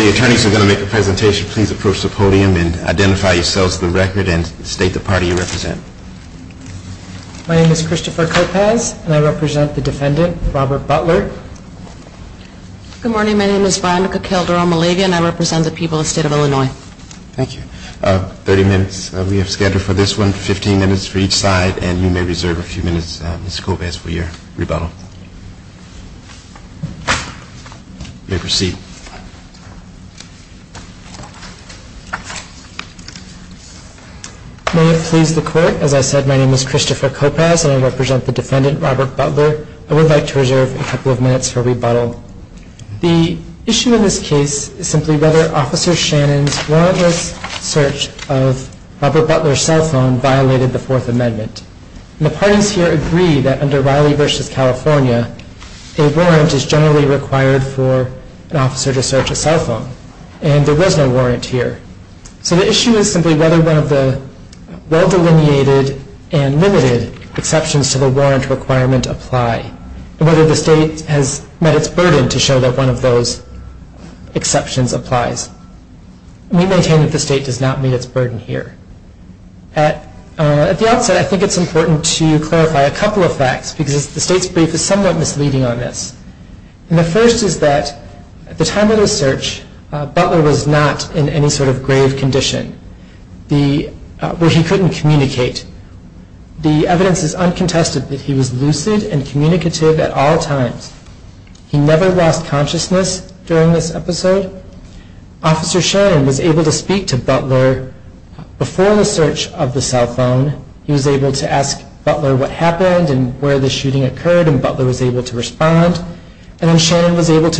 The attorneys are going to make a presentation. Please approach the podium and identify yourselves for the record and state the party you represent. My name is Christopher Kopecz and I represent the defendant, Robert Butler. Good morning, my name is Veronica Calderon-Malavian. I represent the people of the state of Illinois. Thank you. 30 minutes we have scattered for this one, 15 minutes for each side, and you may reserve a few minutes, Ms. Kopecz, for your rebuttal. You may proceed. May it please the court, as I said, my name is Christopher Kopecz and I represent the defendant, Robert Butler. I would like to reserve a couple of minutes for rebuttal. The issue in this case is simply whether Officer Shannon's warrantless search of Robert Butler's cell phone violated the Fourth Amendment. The parties here agree that under Riley v. California, a warrant is generally required for an officer to search a cell phone, and there was no warrant here. So the issue is simply whether one of the well-delineated and limited exceptions to the warrant requirement apply, and whether the state has met its burden to show that one of those exceptions applies. We maintain that the state does not meet its burden here. At the outset, I think it's important to clarify a couple of facts because the state's brief is somewhat misleading on this. And the first is that at the time of the search, Butler was not in any sort of grave condition where he couldn't communicate. The evidence is uncontested that he was lucid and communicative at all times. He never lost consciousness during this episode. Officer Shannon was able to speak to Butler before the search of the cell phone. He was able to ask Butler what happened and where the shooting occurred, and Butler was able to respond. Butler was able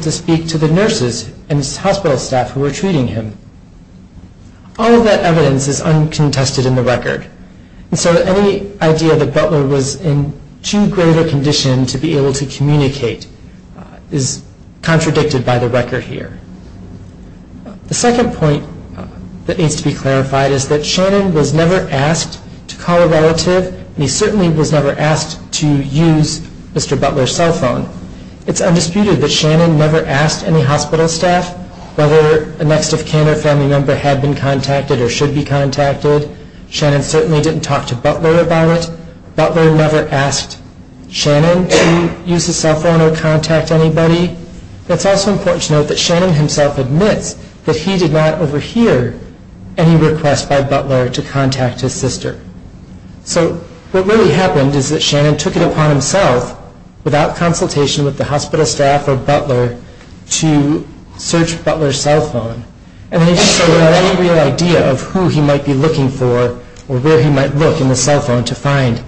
to speak to the nurses and hospital staff who were treating him. All of that evidence is uncontested in the record. So any idea that Butler was in too great a condition to be able to communicate is contradicted by the record here. The second point that needs to be made is that Shannon was never asked to use Butler's cell phone. It's undisputed that Shannon never asked any hospital staff whether a next of kin or family member had been contacted or should be contacted. Shannon certainly didn't talk to Butler about it. Butler never asked Shannon to use his cell phone or contact anybody. It's also important to note that Shannon himself admits that he did not overhear any request by Butler to contact his sister. So what really happened is that Shannon took it upon himself, without consultation with the hospital staff or Butler, to search Butler's cell phone. And he didn't have any real idea of who he might be looking for or where he might look in the cell phone to find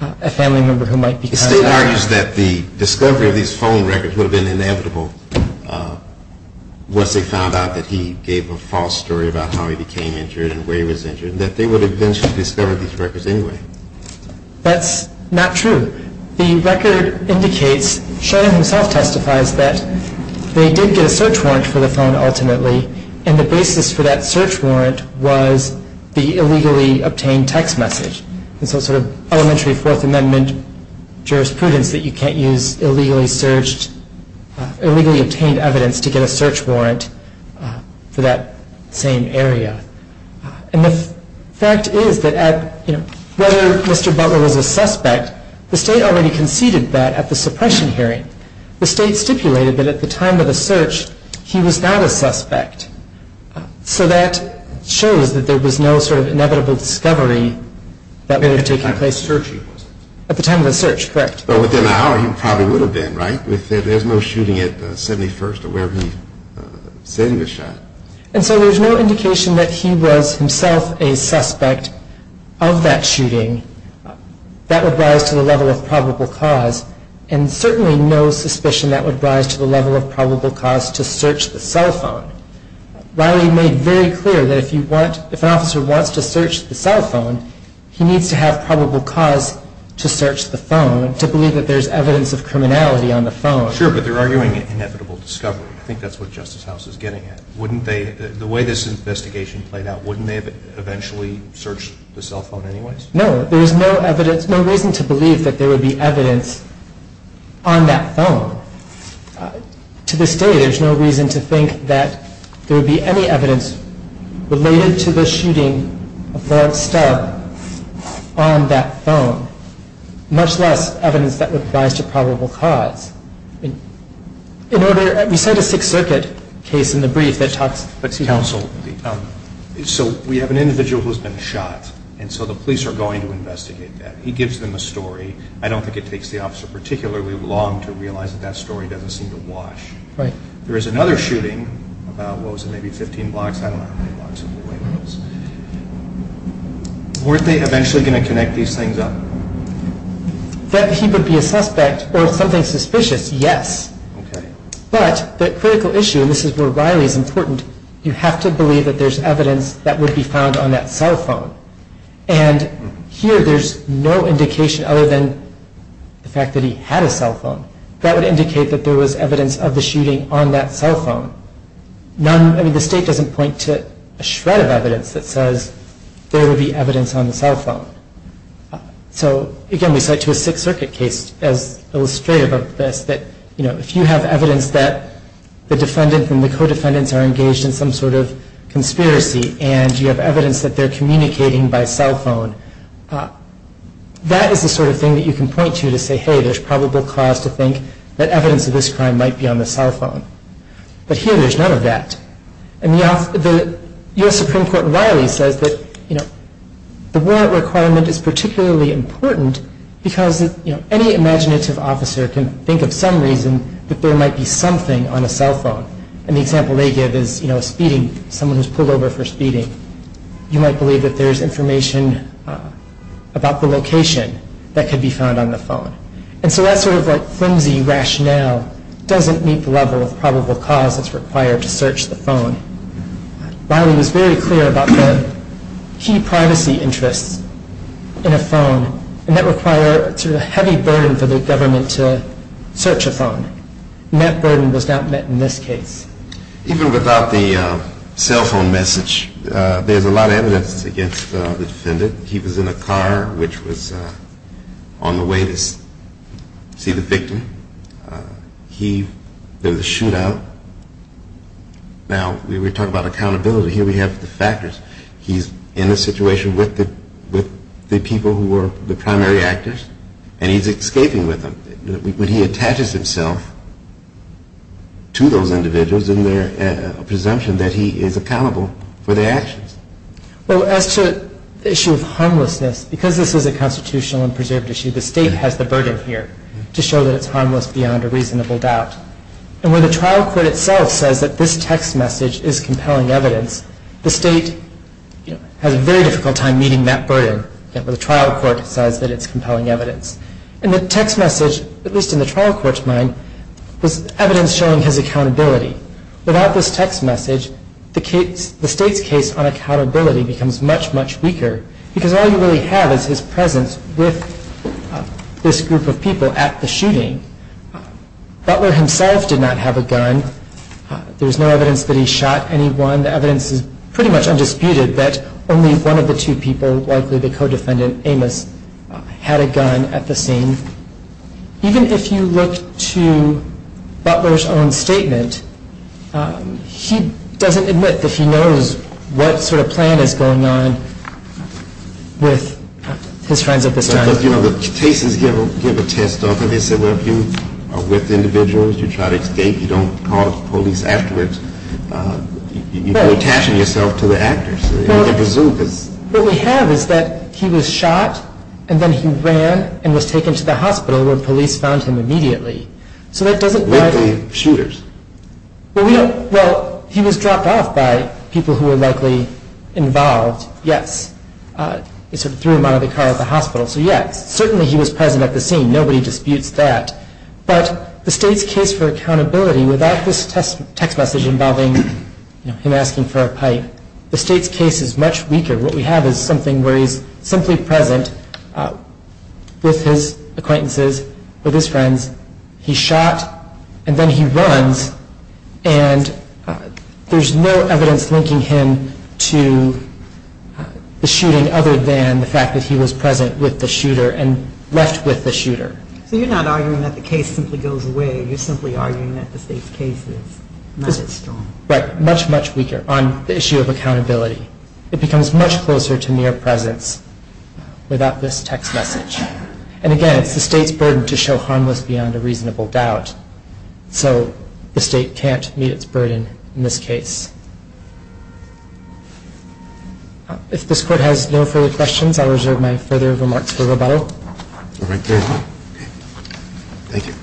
a family member who might be contacted. The state argues that the discovery of these phone records would have been inevitable once they found out that he gave a false story about how he became injured and where he was injured, that they would eventually discover these records anyway. That's not true. The record indicates, Shannon himself testifies, that they did get a search warrant for the phone ultimately. And the basis for that search warrant was the illegally obtained text message. And so sort of elementary Fourth Amendment jurisprudence that you can't use illegally searched, illegally obtained evidence to get a search warrant for that same area. And the fact is that, you know, whether Mr. Butler was a suspect, the state already conceded that at the suppression hearing. The state stipulated that at the time of the search, he was not a suspect. So that shows that there was no sort of inevitable discovery that would have taken place at the time of the search. Correct. Within an hour, he probably would have been, right? There's no shooting at 71st or wherever he said he was shot. And so there's no indication that he was himself a suspect of that shooting that would rise to the level of probable cause. And certainly no suspicion that would rise to the level of probable cause to search the cell phone. Riley made very clear that if you want, if an officer wants to search the cell phone, he needs to have probable cause to search the phone to believe that there's evidence of criminality on the phone. Sure, but they're arguing inevitable discovery. I think that's what Justice House is getting at. Wouldn't they, the way this investigation played out, wouldn't they have eventually searched the cell phone anyways? No, there was no evidence, no reason to believe that there would be evidence on that phone. To this day, there's no reason to think that there would be any evidence related to the shooting of Walt Stubb on that phone, much less evidence that would rise to probable cause. In order, we said a Sixth Circuit case in the brief that talks to counsel. So we have an individual who's been shot, and so the police are going to investigate that. He gives them a story. I don't think it takes the officer particularly long to realize that that story doesn't seem to wash. Right. There is another shooting about, what was it, maybe 15 blocks? I don't know how many blocks it was. Weren't they eventually going to connect these things up? That he would be a suspect or something suspicious, yes. Okay. But the critical issue, and this is where Riley is important, you have to believe that there's evidence that would be found on that cell phone. And here, there's no indication other than the fact that he had a cell phone. That would indicate that there was evidence of the shooting on that cell phone. None, I mean, the state doesn't point to a shred of evidence that says there would be evidence on the cell phone. So, again, we cite to a Sixth Circuit case as illustrative of this, that, you know, if you have evidence that the defendant and the co-defendants are engaged in some sort of conspiracy, and you have evidence that they're communicating by cell phone, that is the sort of thing that you can point to to say, hey, there's probable cause to think that evidence of this crime might be on the cell phone. But here, there's none of that. And the U.S. Supreme Court in Riley says that, you know, the warrant requirement is particularly important because, you know, any imaginative officer can think of some reason that there might be something on a cell phone. And the example they give is, you know, speeding, someone who's pulled over for speeding. You might believe that there's information about the location that could be found on the phone. And so that sort of, like, conspiracy rationale doesn't meet the level of probable cause that's required to search the phone. Riley was very clear about the key privacy interests in a phone, and that require a sort of heavy burden for the government to search a phone. And that burden was not met in this case. Even without the cell phone message, there's a lot of evidence against the defendant. He was in a car which was on the way to see the victim. There was a shootout. Now, we were talking about accountability. Here we have the factors. He's in a situation with the people who were the primary actors, and he's escaping with them. When he attaches himself to those individuals, isn't there a presumption that he is accountable for their actions? Well, as to the issue of harmlessness, because this is a constitutional and preserved issue, the state has the burden here to show that it's harmless beyond a reasonable doubt. And when the trial court itself says that this text message is compelling evidence, the state has a very difficult time meeting that burden. The trial court says that it's compelling evidence. And the text message, at least in the trial court's mind, was evidence showing his accountability. Without this text message, the state's case on accountability becomes much, much weaker because all you really have is his presence with this group of people at the shooting. Butler himself did not have a gun. There's no evidence that he shot anyone. The evidence is pretty much undisputed that only one of the two people, likely the co-defendant Amos, had a gun at the scene. Even if you look to Butler's own statement, he doesn't admit that he knows what sort of plan is going on with his friends at this time. But, you know, the cases give a test of it. They say, well, if you are with individuals, you try to escape, you don't call the police afterwards, you're attaching yourself to the And then he ran and was taken to the hospital where police found him immediately. So that doesn't mean he was dropped off by people who were likely involved. Yes, it sort of threw him out of the car at the hospital. So yes, certainly he was present at the scene. Nobody disputes that. But the state's case for accountability without this text message involving him asking for a pipe, the state's case is much weaker. What we have is something where he's simply present with his acquaintances, with his friends. He's shot and then he runs and there's no evidence linking him to the shooting other than the fact that he was present with the shooter and left with the shooter. So you're not arguing that the case simply goes away. You're simply arguing that the state's case is not as strong. Right. Much, weaker on the issue of accountability. It becomes much closer to mere presence without this text message. And again, it's the state's burden to show harmless beyond a reasonable doubt. So the state can't meet its burden in this case. If this court has no further questions, I'll reserve my further remarks for rebuttal. All right. Thank you.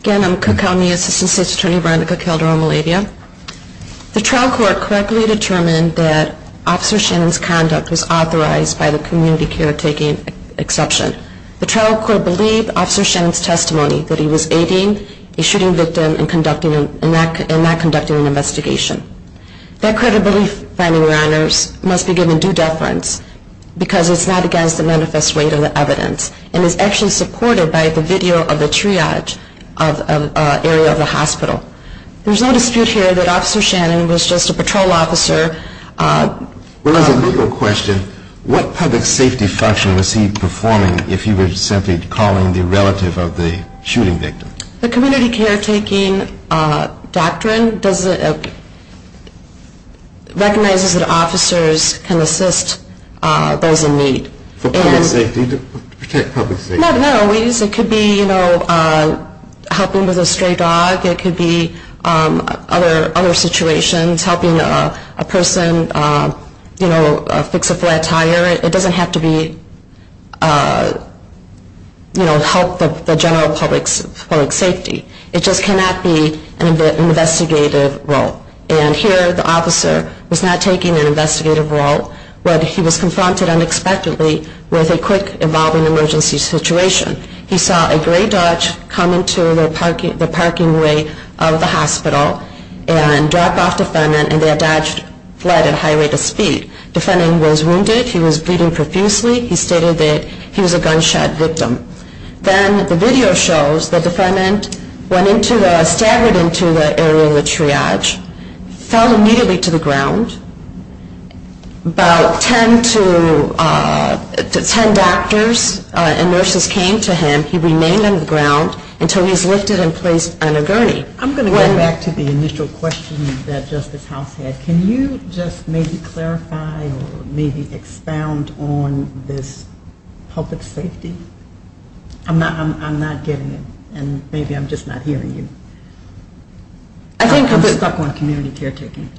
Again, I'm Cook County Assistant State's Attorney, Veronica Calderon-Maladia. The trial court correctly determined that Officer Shannon's conduct was authorized by the community caretaking exception. The trial court believed Officer Shannon's testimony that he was aiding a shooting victim and not conducting an investigation. That credible finding, Your Honors, must be given due deference because it's not against the manifest weight of the evidence and is actually supported by the video of the triage of an area of the hospital. There's no dispute here that Officer Shannon was just a patrol officer. Well, as a legal question, what public safety function was he performing if he was simply calling the relative of the shooting victim? The community caretaking doctrine recognizes that officers can assist those in need. For public safety? To protect public safety? Not always. It could be, you know, helping with a stray dog. It could be other situations, helping a person, you know, fix a flat tire. It doesn't have to be help the general public's public safety. It just cannot be an investigative role. And here, the officer was not taking an investigative role, but he was confronted unexpectedly with a quick evolving emergency situation. He saw a gray Dodge come into the parking way of the hospital and drop off defendant, and that Dodge fled at high rate of speed. Defendant was wounded. He was bleeding profusely. He stated that he was a gunshot victim. Then the video shows the defendant went into the, staggered into the area of the triage, fell immediately to the ground. About 10 to, 10 doctors and nurses came to him. He remained on the ground until he was lifted and placed on a gurney. I'm going to go back to the initial question that Justice House had. Can you just maybe clarify or maybe expound on this public safety? I'm not, I'm not getting it. And maybe I'm just not hearing you. I think I'm stuck on community caretaking.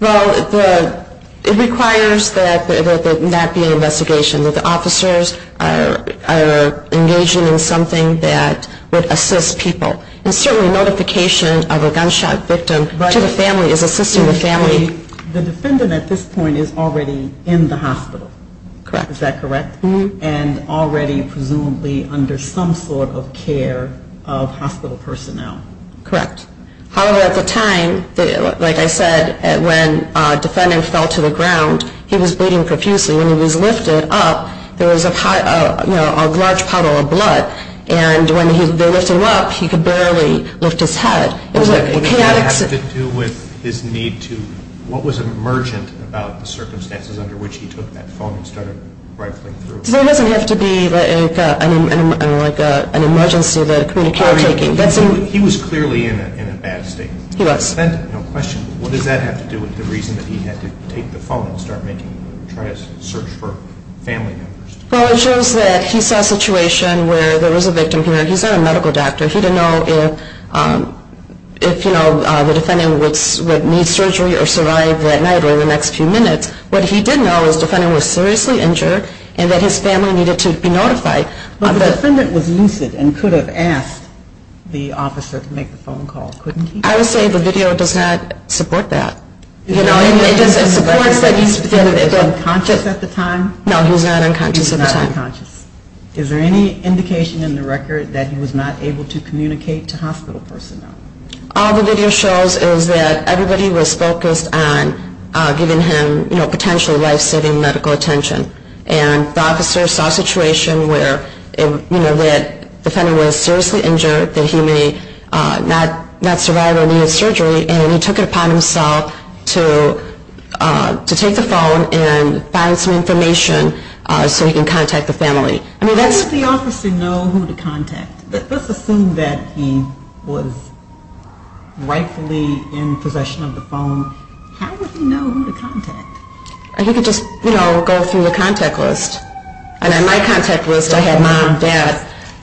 Well, it requires that there not be an investigation, that the officers are engaging in something that would assist people. And certainly notification of a gunshot victim to the family is assisting the family. The defendant at this point is already in the hospital. Correct. Is that correct? And already presumably under some sort of care of hospital personnel. Correct. However, at the time, like I said, when defendant fell to the ground, he was bleeding profusely. When he was lifted up, there was a large puddle of blood. And when they lifted him up, he could barely lift his head. Does that have to do with his need to, what was emergent about the circumstances under which he took that phone and started rifling through? It doesn't have to be like an emergency, the community caretaking. He was clearly in a bad state. He was. Well, it shows that he saw a situation where there was a victim here, he's not a medical doctor, he didn't know if, you know, the defendant would need surgery or survive that night or the next few minutes. What he did know was the defendant was seriously injured and that his family needed to be notified. But the defendant was lucid and could have asked the officer to make the phone call, couldn't he? I would say the video does not support that. It supports that he was unconscious at the time? No, he was not unconscious at the time. Is there any indication in the record that he was not able to communicate to hospital personnel? All the video shows is that everybody was focused on giving him, you know, potential life-saving medical attention. And the officer saw a situation where, you know, that the defendant was seriously injured, that he may not survive or need surgery, and he took it upon himself to take the phone and find some information so he can contact the family. How would the officer know who to contact? Let's assume that he was rightfully in possession of the phone. He could just, you know, go through the contact list. And on my contact list, I had mom, dad,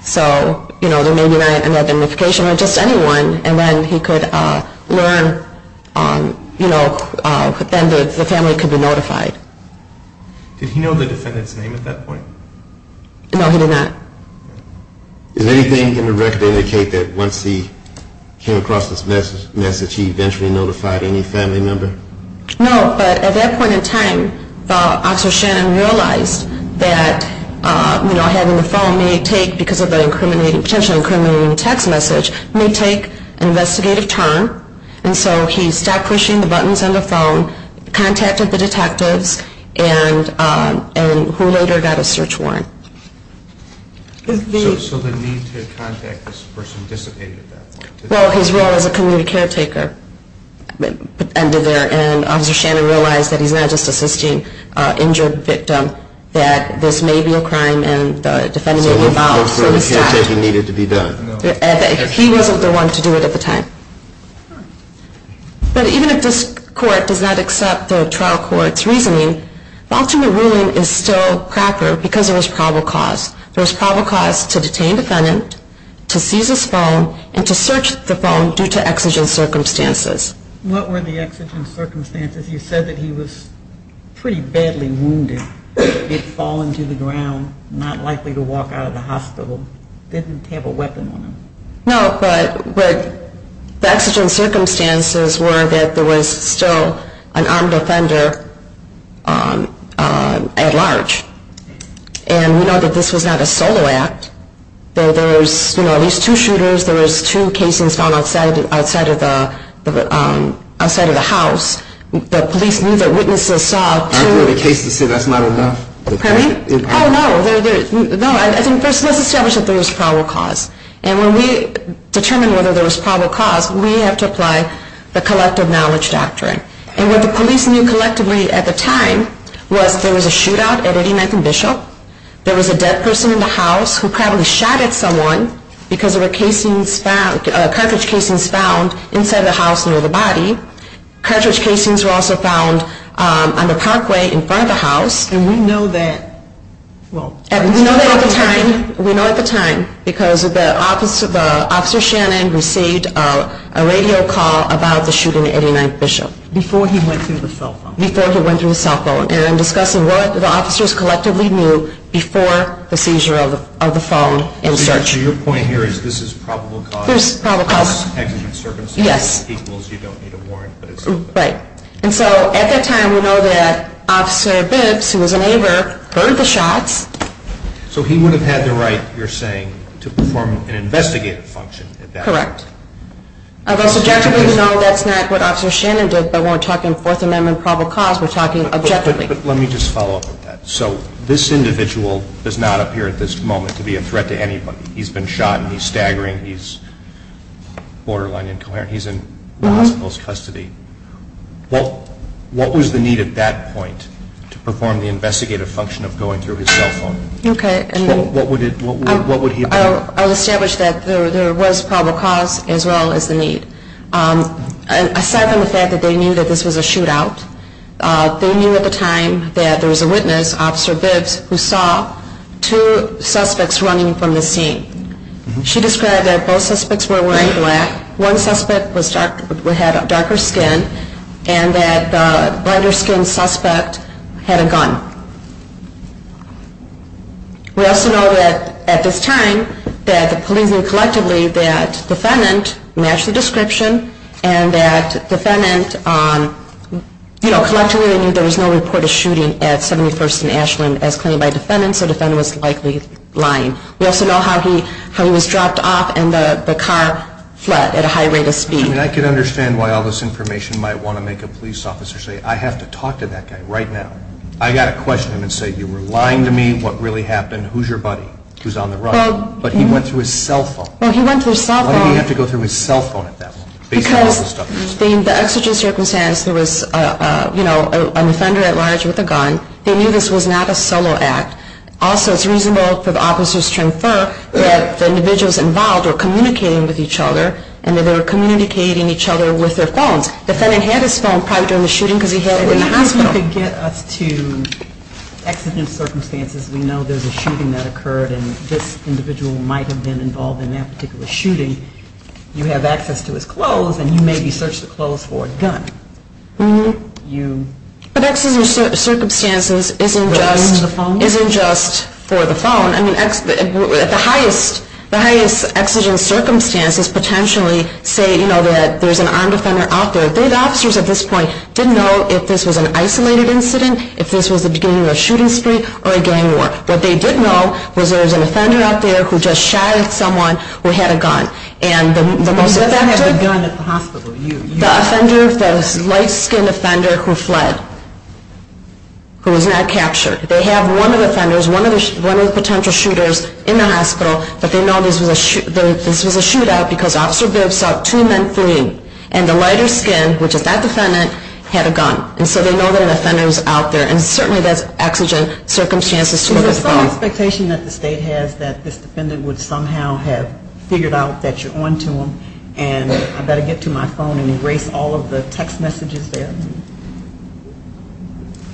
so, you know, there may be another notification or just anyone, and then he could learn, you know, then the family could be notified. Did he know the defendant's name at that point? No, he did not. Is there anything in the record to indicate that once he came across this message, he eventually notified any family member? No, but at that point in time, Officer Shannon realized that, you know, having the phone may take, because of the incriminating, potentially incriminating text message, may take an investigative turn. And so he stopped pushing the buttons on the phone, contacted the detectives, and who later got a search warrant. So the need to contact this person dissipated at that point? Well, his role as a community caretaker ended there, and Officer Shannon realized that he's not just assisting an injured victim, that this may be a crime, and the defendant may be involved, so he stopped. So the community caretaking needed to be done? He wasn't the one to do it at the time. But even if this court does not accept the trial court's reasoning, the ultimate ruling is still cracker, because there was probable cause. There was probable cause to detain the defendant, to seize his phone, and to search the phone due to exigent circumstances. What were the exigent circumstances? You said that he was pretty badly wounded, had fallen to the ground, not likely to walk out of the hospital, didn't have a weapon on him. No, but the exigent circumstances were that there was still an armed offender at large. And we know that this was not a solo act, that there was at least two shooters, there was two casings found outside of the house, the police knew that witnesses saw two... Aren't there any cases to say that's not enough? Pardon me? Oh, no. First, let's establish that there was probable cause. And when we determine whether there was probable cause, we have to apply the collective knowledge doctrine. And what the police knew collectively at the time was there was a shootout at 89th and Bishop, there was a dead person in the house who probably shot at someone because there were cartridge casings found inside the house near the body. Cartridge casings were also found on the parkway in front of the house. And we know that... Before he went through the cell phone. Before he went through the cell phone. And I'm discussing what the officers collectively knew before the seizure of the phone and search. So your point here is this is probable cause. This is probable cause. Exigent circumstances equals you don't need a warrant. Right. And so at that time, we know that Officer Bibbs, who was a neighbor, heard the shots. So he would have had the right, you're saying, to perform an investigative function at that point. Correct. Objectively, no, that's not what Officer Shannon did, but we're talking Fourth Amendment probable cause. We're talking objectively. But let me just follow up with that. So this individual does not appear at this moment to be a threat to anybody. He's been shot and he's staggering. He's borderline incoherent. He's in the hospital's custody. What was the need at that point to perform the investigative function of going through his cell phone? Okay. What would he have done? I'll establish that there was probable cause as well as the need. Aside from the fact that they knew that this was a shootout, they knew at the time that there was a witness, Officer Bibbs, who saw two suspects running from the scene. She described that both suspects were wearing black. One suspect had darker skin and that the lighter-skinned suspect had a gun. We also know that at this time that the police knew collectively that defendant matched the description and that defendant, you know, collectively knew there was no report of shooting at 71st and Ashland as claimed by defendant, so defendant was likely lying. We also know how he was dropped off and the car fled at a high rate of speed. I mean, I can understand why all this information might want to make a police officer say, I have to talk to that guy right now. I've got to question him and say, you were lying to me. What really happened? Who's your buddy who's on the run? But he went through his cell phone. Why did he have to go through his cell phone at that point? Because in the exigent circumstance, there was, you know, an offender at large with a gun. They knew this was not a solo act. Also, it's reasonable for the officers to infer that the individuals involved were communicating with each other and that they were communicating each other with their phones. The defendant had his phone probably during the shooting because he had it in the hospital. If you could get us to exigent circumstances, we know there's a shooting that occurred and this individual might have been involved in that particular shooting. You have access to his clothes and you maybe searched the clothes for a gun. But exigent circumstances isn't just for the phone. I mean, the highest exigent circumstances potentially say, you know, that there's an armed offender out there. The officers at this point didn't know if this was an isolated incident, if this was the beginning of a shooting spree or a gang war. What they did know was there was an offender out there who just shot at someone who had a gun. And the most effective... You had a gun at the hospital. The offender, the light-skinned offender who fled, who was not captured. They have one of the offenders, one of the potential shooters in the hospital, but they know this was a shootout because Officer Bibbs saw two men fleeing. And the lighter-skinned, which is that defendant, had a gun. And so they know that an offender is out there. And certainly there's exigent circumstances to look at the phone. So there's some expectation that the state has that this defendant would somehow have figured out that you're on to him and I better get to my phone and erase all of the text messages there?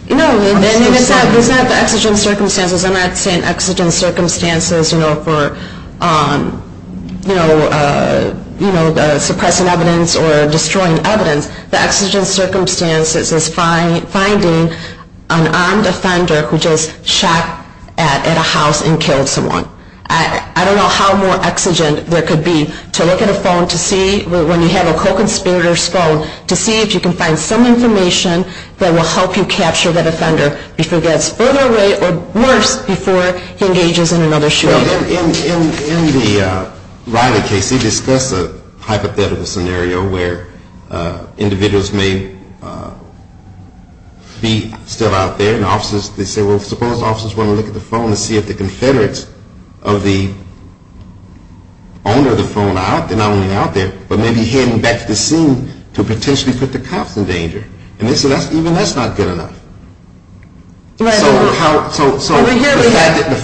No, I mean, it's not the exigent circumstances. I'm not saying exigent circumstances for suppressing evidence or destroying evidence. The exigent circumstances is finding an armed offender who just shot at a house and killed someone. I don't know how more exigent there could be to look at a phone to see when you have a co-conspirator's phone, to see if you can find some information that will help you capture the offender before it gets further away or worse. Before he engages in another shootout. In the Riley case, he discussed a hypothetical scenario where individuals may be still out there and they say, well, suppose officers want to look at the phone and see if the Confederates of the owner of the phone are out. They're not only out there, but maybe heading back to the scene to potentially put the cops in danger. And they say even that's not good enough. So the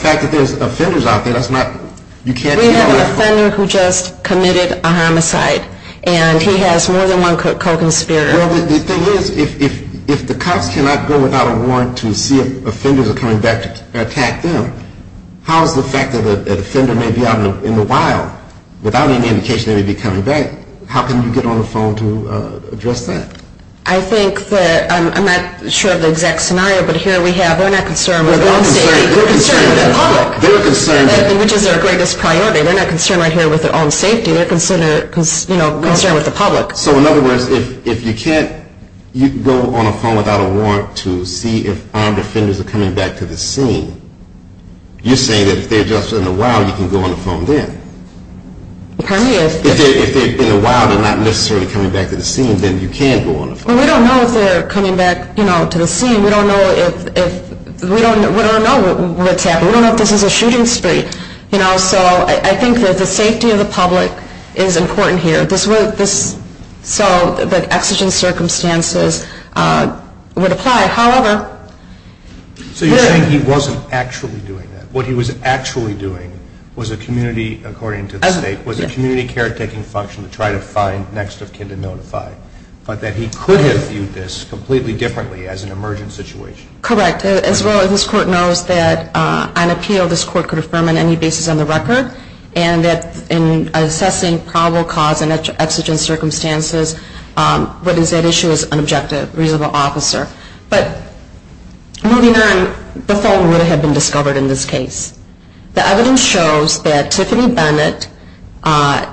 fact that there's offenders out there, that's not... We have an offender who just committed a homicide and he has more than one co-conspirator. Well, the thing is, if the cops cannot go without a warrant to see if offenders are coming back to attack them, how is the fact that an offender may be out in the wild without any indication that he'd be coming back, how can you get on the phone to address that? I'm not sure of the exact scenario, but here we have, they're not concerned with their own safety, they're concerned with the public. Which is their greatest priority. They're not concerned with their own safety, they're concerned with the public. So in other words, if you can't go on a phone without a warrant to see if armed offenders are coming back to the scene, you're saying that if they're just in the wild, you can go on the phone then. If they're in the wild and not necessarily coming back to the scene, then you can go on the phone. Well, we don't know if they're coming back to the scene. We don't know what's happening. We don't know if this is a shooting spree. So I think that the safety of the public is important here. So the exigent circumstances would apply. However, So you're saying he wasn't actually doing that. What he was actually doing was a community, according to the state, was a community caretaking function to try to find next of kin to notify. But that he could have viewed this completely differently as an emergent situation. Correct. As well, this Court knows that on appeal, this Court could affirm on any basis on the record, and that in assessing probable cause and exigent circumstances, what is at issue is an objective, reasonable officer. But moving on, the phone would have been discovered in this case. The evidence shows that Tiffany Bennett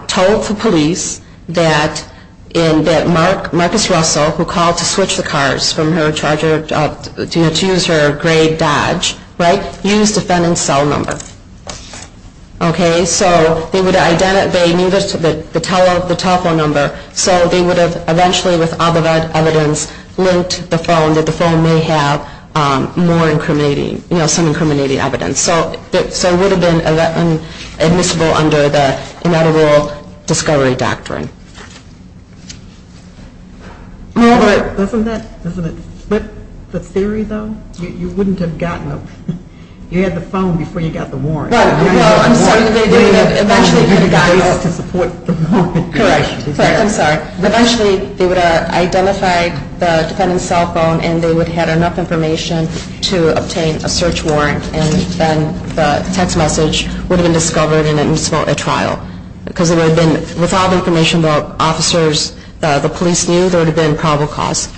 told the police that Marcus Russell, who called to switch the cars from her charger to use her gray Dodge, used defendant's cell number. Okay, so they needed the telephone number. So they would have eventually, with other evidence, linked the phone, that the phone may have more incriminating, you know, some incriminating evidence. So it would have been admissible under the Ineligible Discovery Doctrine. Doesn't that split the theory, though? You wouldn't have gotten a, you had the phone before you got the warrant. Well, I'm sorry. Eventually, they would have identified the defendant's cell phone, and they would have had enough information to obtain a search warrant, and then the text message would have been discovered in a trial. Because it would have been, with all the information the officers, the police knew, there would have been probable cause.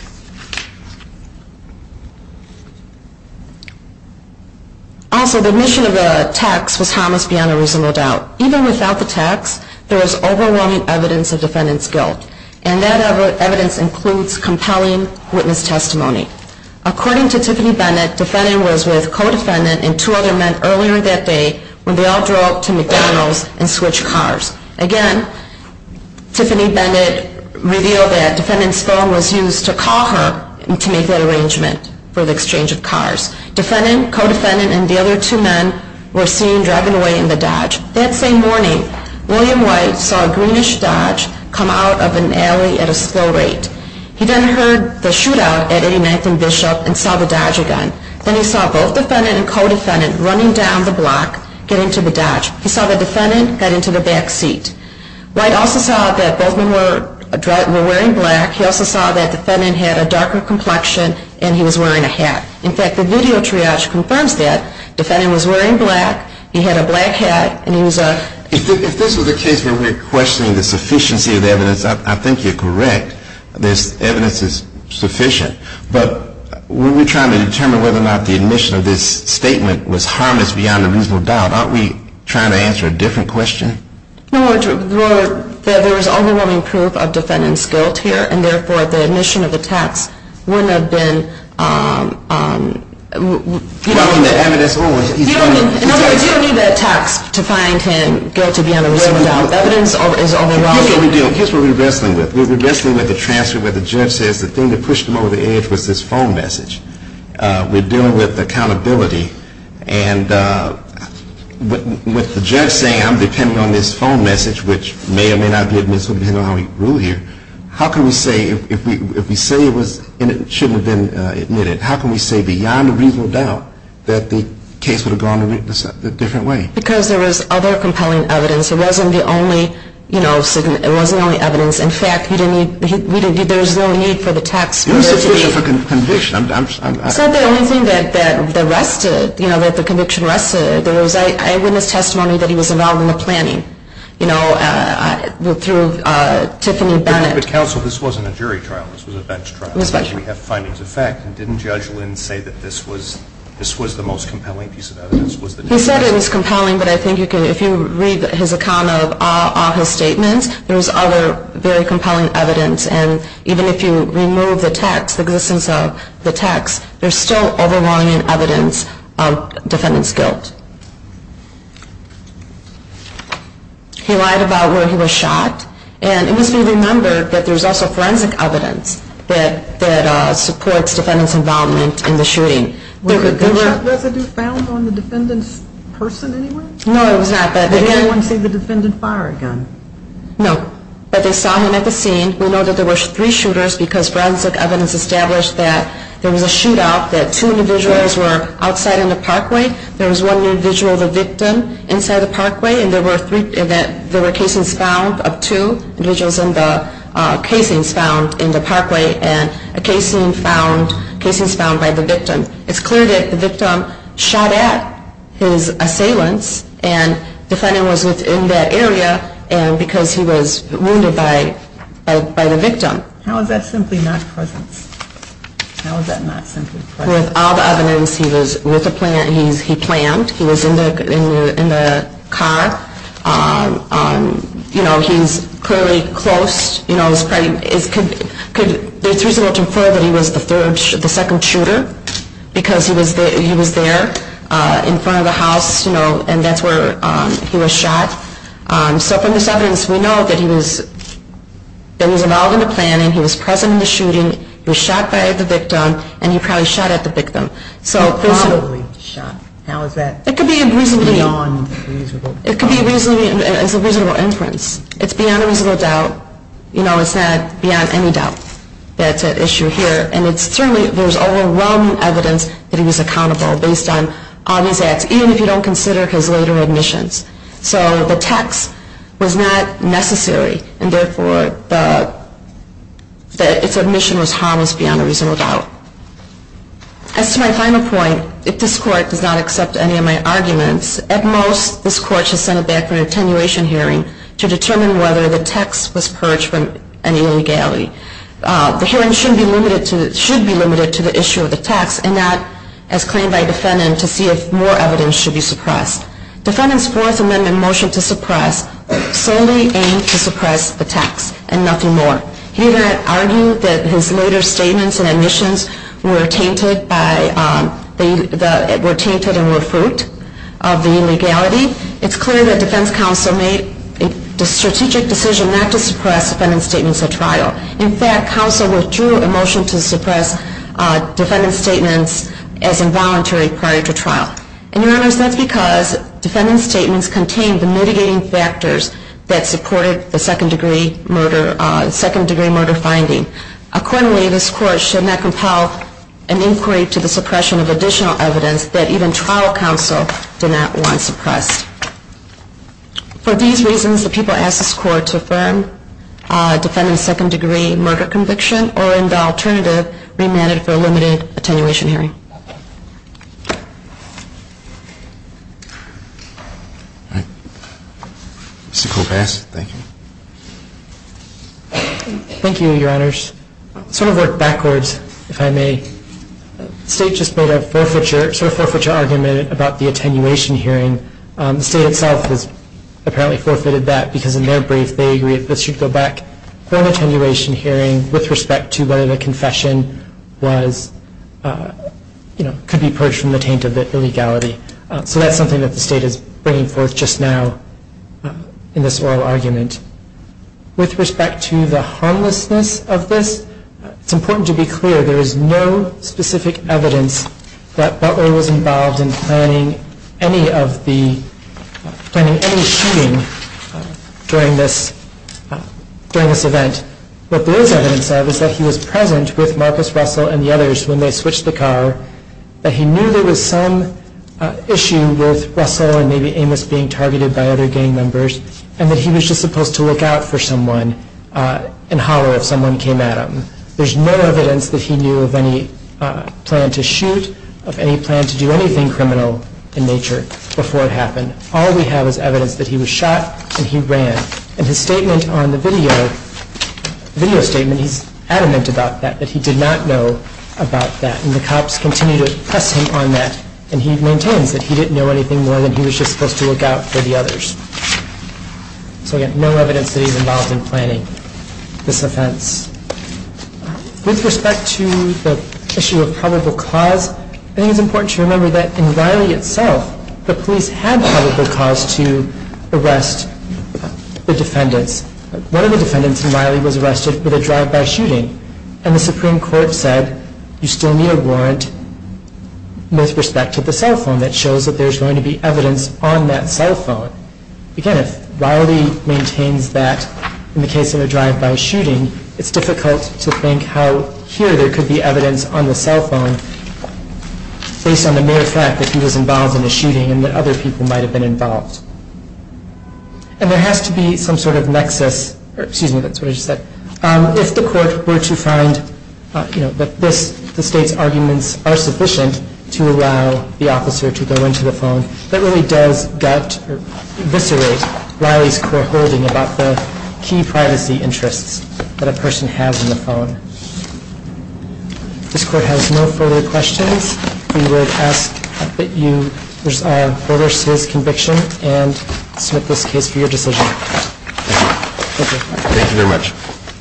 Also, the mission of the text was how it must be on a reasonable doubt. Even without the text, there was overwhelming evidence of defendant's guilt. And that evidence includes compelling witness testimony. According to Tiffany Bennett, defendant was with co-defendant and two other men earlier that day when they all drove to McDonald's and switched cars. Again, Tiffany Bennett revealed that defendant's phone was used to call the police. And that's when she was called to make that arrangement for the exchange of cars. Defendant, co-defendant, and the other two men were seen driving away in the Dodge. That same morning, William White saw a greenish Dodge come out of an alley at a slow rate. He then heard the shootout at 89th and Bishop and saw the Dodge again. Then he saw both defendant and co-defendant running down the block getting to the Dodge. He saw the defendant get into the back seat. White also saw that both men were wearing black. He also saw that defendant had a darker complexion and he was wearing a hat. In fact, the video triage confirms that. Defendant was wearing black. He had a black hat. If this was a case where we're questioning the sufficiency of evidence, I think you're correct. This evidence is sufficient. But when we're trying to determine whether or not the admission of this statement was harmless beyond a reasonable doubt, aren't we trying to answer a different question? There is overwhelming proof of defendant's guilt here and therefore the admission of the text wouldn't have been You don't need the text to find him guilty beyond a reasonable doubt. Here's what we're wrestling with. We're wrestling with the transfer where the judge says the thing that pushed him over the edge was this phone message. We're dealing with accountability and with the judge saying I'm depending on this phone message which may or may not be admissible depending on how we rule here, how can we say if we say it shouldn't have been admitted, how can we say beyond a reasonable doubt that the case would have gone a different way? Because there was other compelling evidence. It wasn't the only evidence. In fact, there's no need for the text It was sufficient for conviction. It's not the only thing that rested, that the conviction rested. There was eyewitness testimony that he was involved in the planning through Tiffany Bennett. But counsel, this wasn't a jury trial. This was a bench trial. We have findings of fact. Didn't Judge Lin say that this was the most compelling piece of evidence? He said it was compelling, but I think if you read his account of all his statements, there was other very compelling evidence and even if you remove the text, the existence of the text, there's still overwhelming evidence of defendant's guilt. He lied about where he was shot and it must be remembered that there's also forensic evidence that supports defendant's involvement in the shooting. Was a gunshot residue found on the defendant's person anywhere? No, it was not. Did anyone see the defendant fire a gun? No, but they saw him at the scene. We know that there were three shooters because forensic evidence established that there was a shootout, that two individuals were outside in the parkway. There was one individual, the victim, inside the parkway and there were casings found of two individuals in the casings found in the parkway and casings found by the victim. It's clear that the victim shot at his assailants and defendant was within that area and because he was wounded by the victim. How is that simply not presence? With all the evidence, he planned. He was in the car. He's clearly close. It's reasonable to infer that he was the second shooter because he was there in front of the house and that's where he was shot. So from this evidence, we know that he was involved in the planning. He was present in the shooting. He was shot by the victim and he probably shot at the victim. It could be a reasonable inference. It's beyond a reasonable doubt. It's not beyond any doubt that it's at issue here and certainly there's overwhelming evidence that he was accountable based on obvious acts, even if you don't consider his later admissions. So the text was not necessary and therefore its admission was harmless beyond a reasonable doubt. As to my final point, if this Court does not accept any of my arguments, at most this Court should send it back for an attenuation hearing to determine whether the text was purged from any legality. The hearing should be limited to the issue of the text and not as claimed by defendant to see if more evidence should be suppressed. The defense counsel made a strategic decision not to suppress defendant's statements at trial. In fact, counsel withdrew a motion to suppress defendant's statements as involuntary prior to trial. And your honors, that's because defendant's statements contained the mitigating factors that supported withdrew a motion to suppress defendant's statements as involuntary in line with the second-degree murder finding. Accordingly, this Court should not compel an inquiry to the suppression of additional evidence that even trial counsel did not want suppressed. For these reasons, the people ask this Court to affirm defendant's second-degree murder conviction or, in the alternative, remand it for a limited attenuation hearing. All right. Mr. Kopass, thank you. Thank you, your honors. Sort of work backwards, if I may. The State just made a forfeiture argument about the attenuation hearing. The State itself has apparently forfeited that because in their brief they agreed that this should go back for an attenuation hearing with respect to whether the confession was, you know, could be purged from the taint of the illegality. So that's something that the State is bringing forth just now in this oral argument. With respect to the harmlessness of this, it's important to be clear there is no specific evidence that Butler was involved in planning any of the, planning any shooting during this, during this event. What there is evidence of is that he was present with Marcus Russell and the others when they switched the car, that he knew there was some issue with Russell and maybe Amos being targeted by other gang members, and that he was just supposed to look out for someone and holler if someone came at him. There's no evidence that he knew of any plan to shoot, of any plan to do anything criminal in nature before it happened. All we have is evidence that he was shot and he ran. And his statement on the video, video statement, he's adamant about that, that he did not know about that. And the cops continue to press him on that, and he maintains that he didn't know anything more than he was just supposed to look out for the others. So again, no evidence that he was involved in planning this offense. With respect to the issue of probable cause, I think it's important to remember that in Riley itself, the police had probable cause to arrest the defendants. One of the defendants in Riley was arrested with a drive-by shooting, and the Supreme Court said you still need a warrant with respect to the cell phone that shows that there's going to be evidence on that cell phone. Again, if Riley maintains that in the case of a drive-by shooting, it's difficult to think how here there could be evidence on the cell phone based on the mere fact that he was involved in a shooting and that other people might have been involved. And there has to be some sort of nexus or excuse me, that's what I just said, if the court were to find that this, the state's arguments are sufficient to allow the officer to go into the phone, that really does gut or eviscerate Riley's core holding about the key privacy interests that a person has in the phone. If this court has no further questions, we would ask that you hold us to this conviction and submit this case for your decision. Thank you.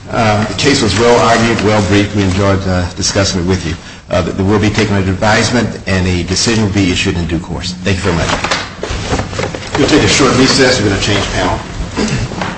The case was well-argued, well-briefed. We enjoyed discussing it with you. There will be taken under advisement and a decision will be issued in due course. Thank you very much.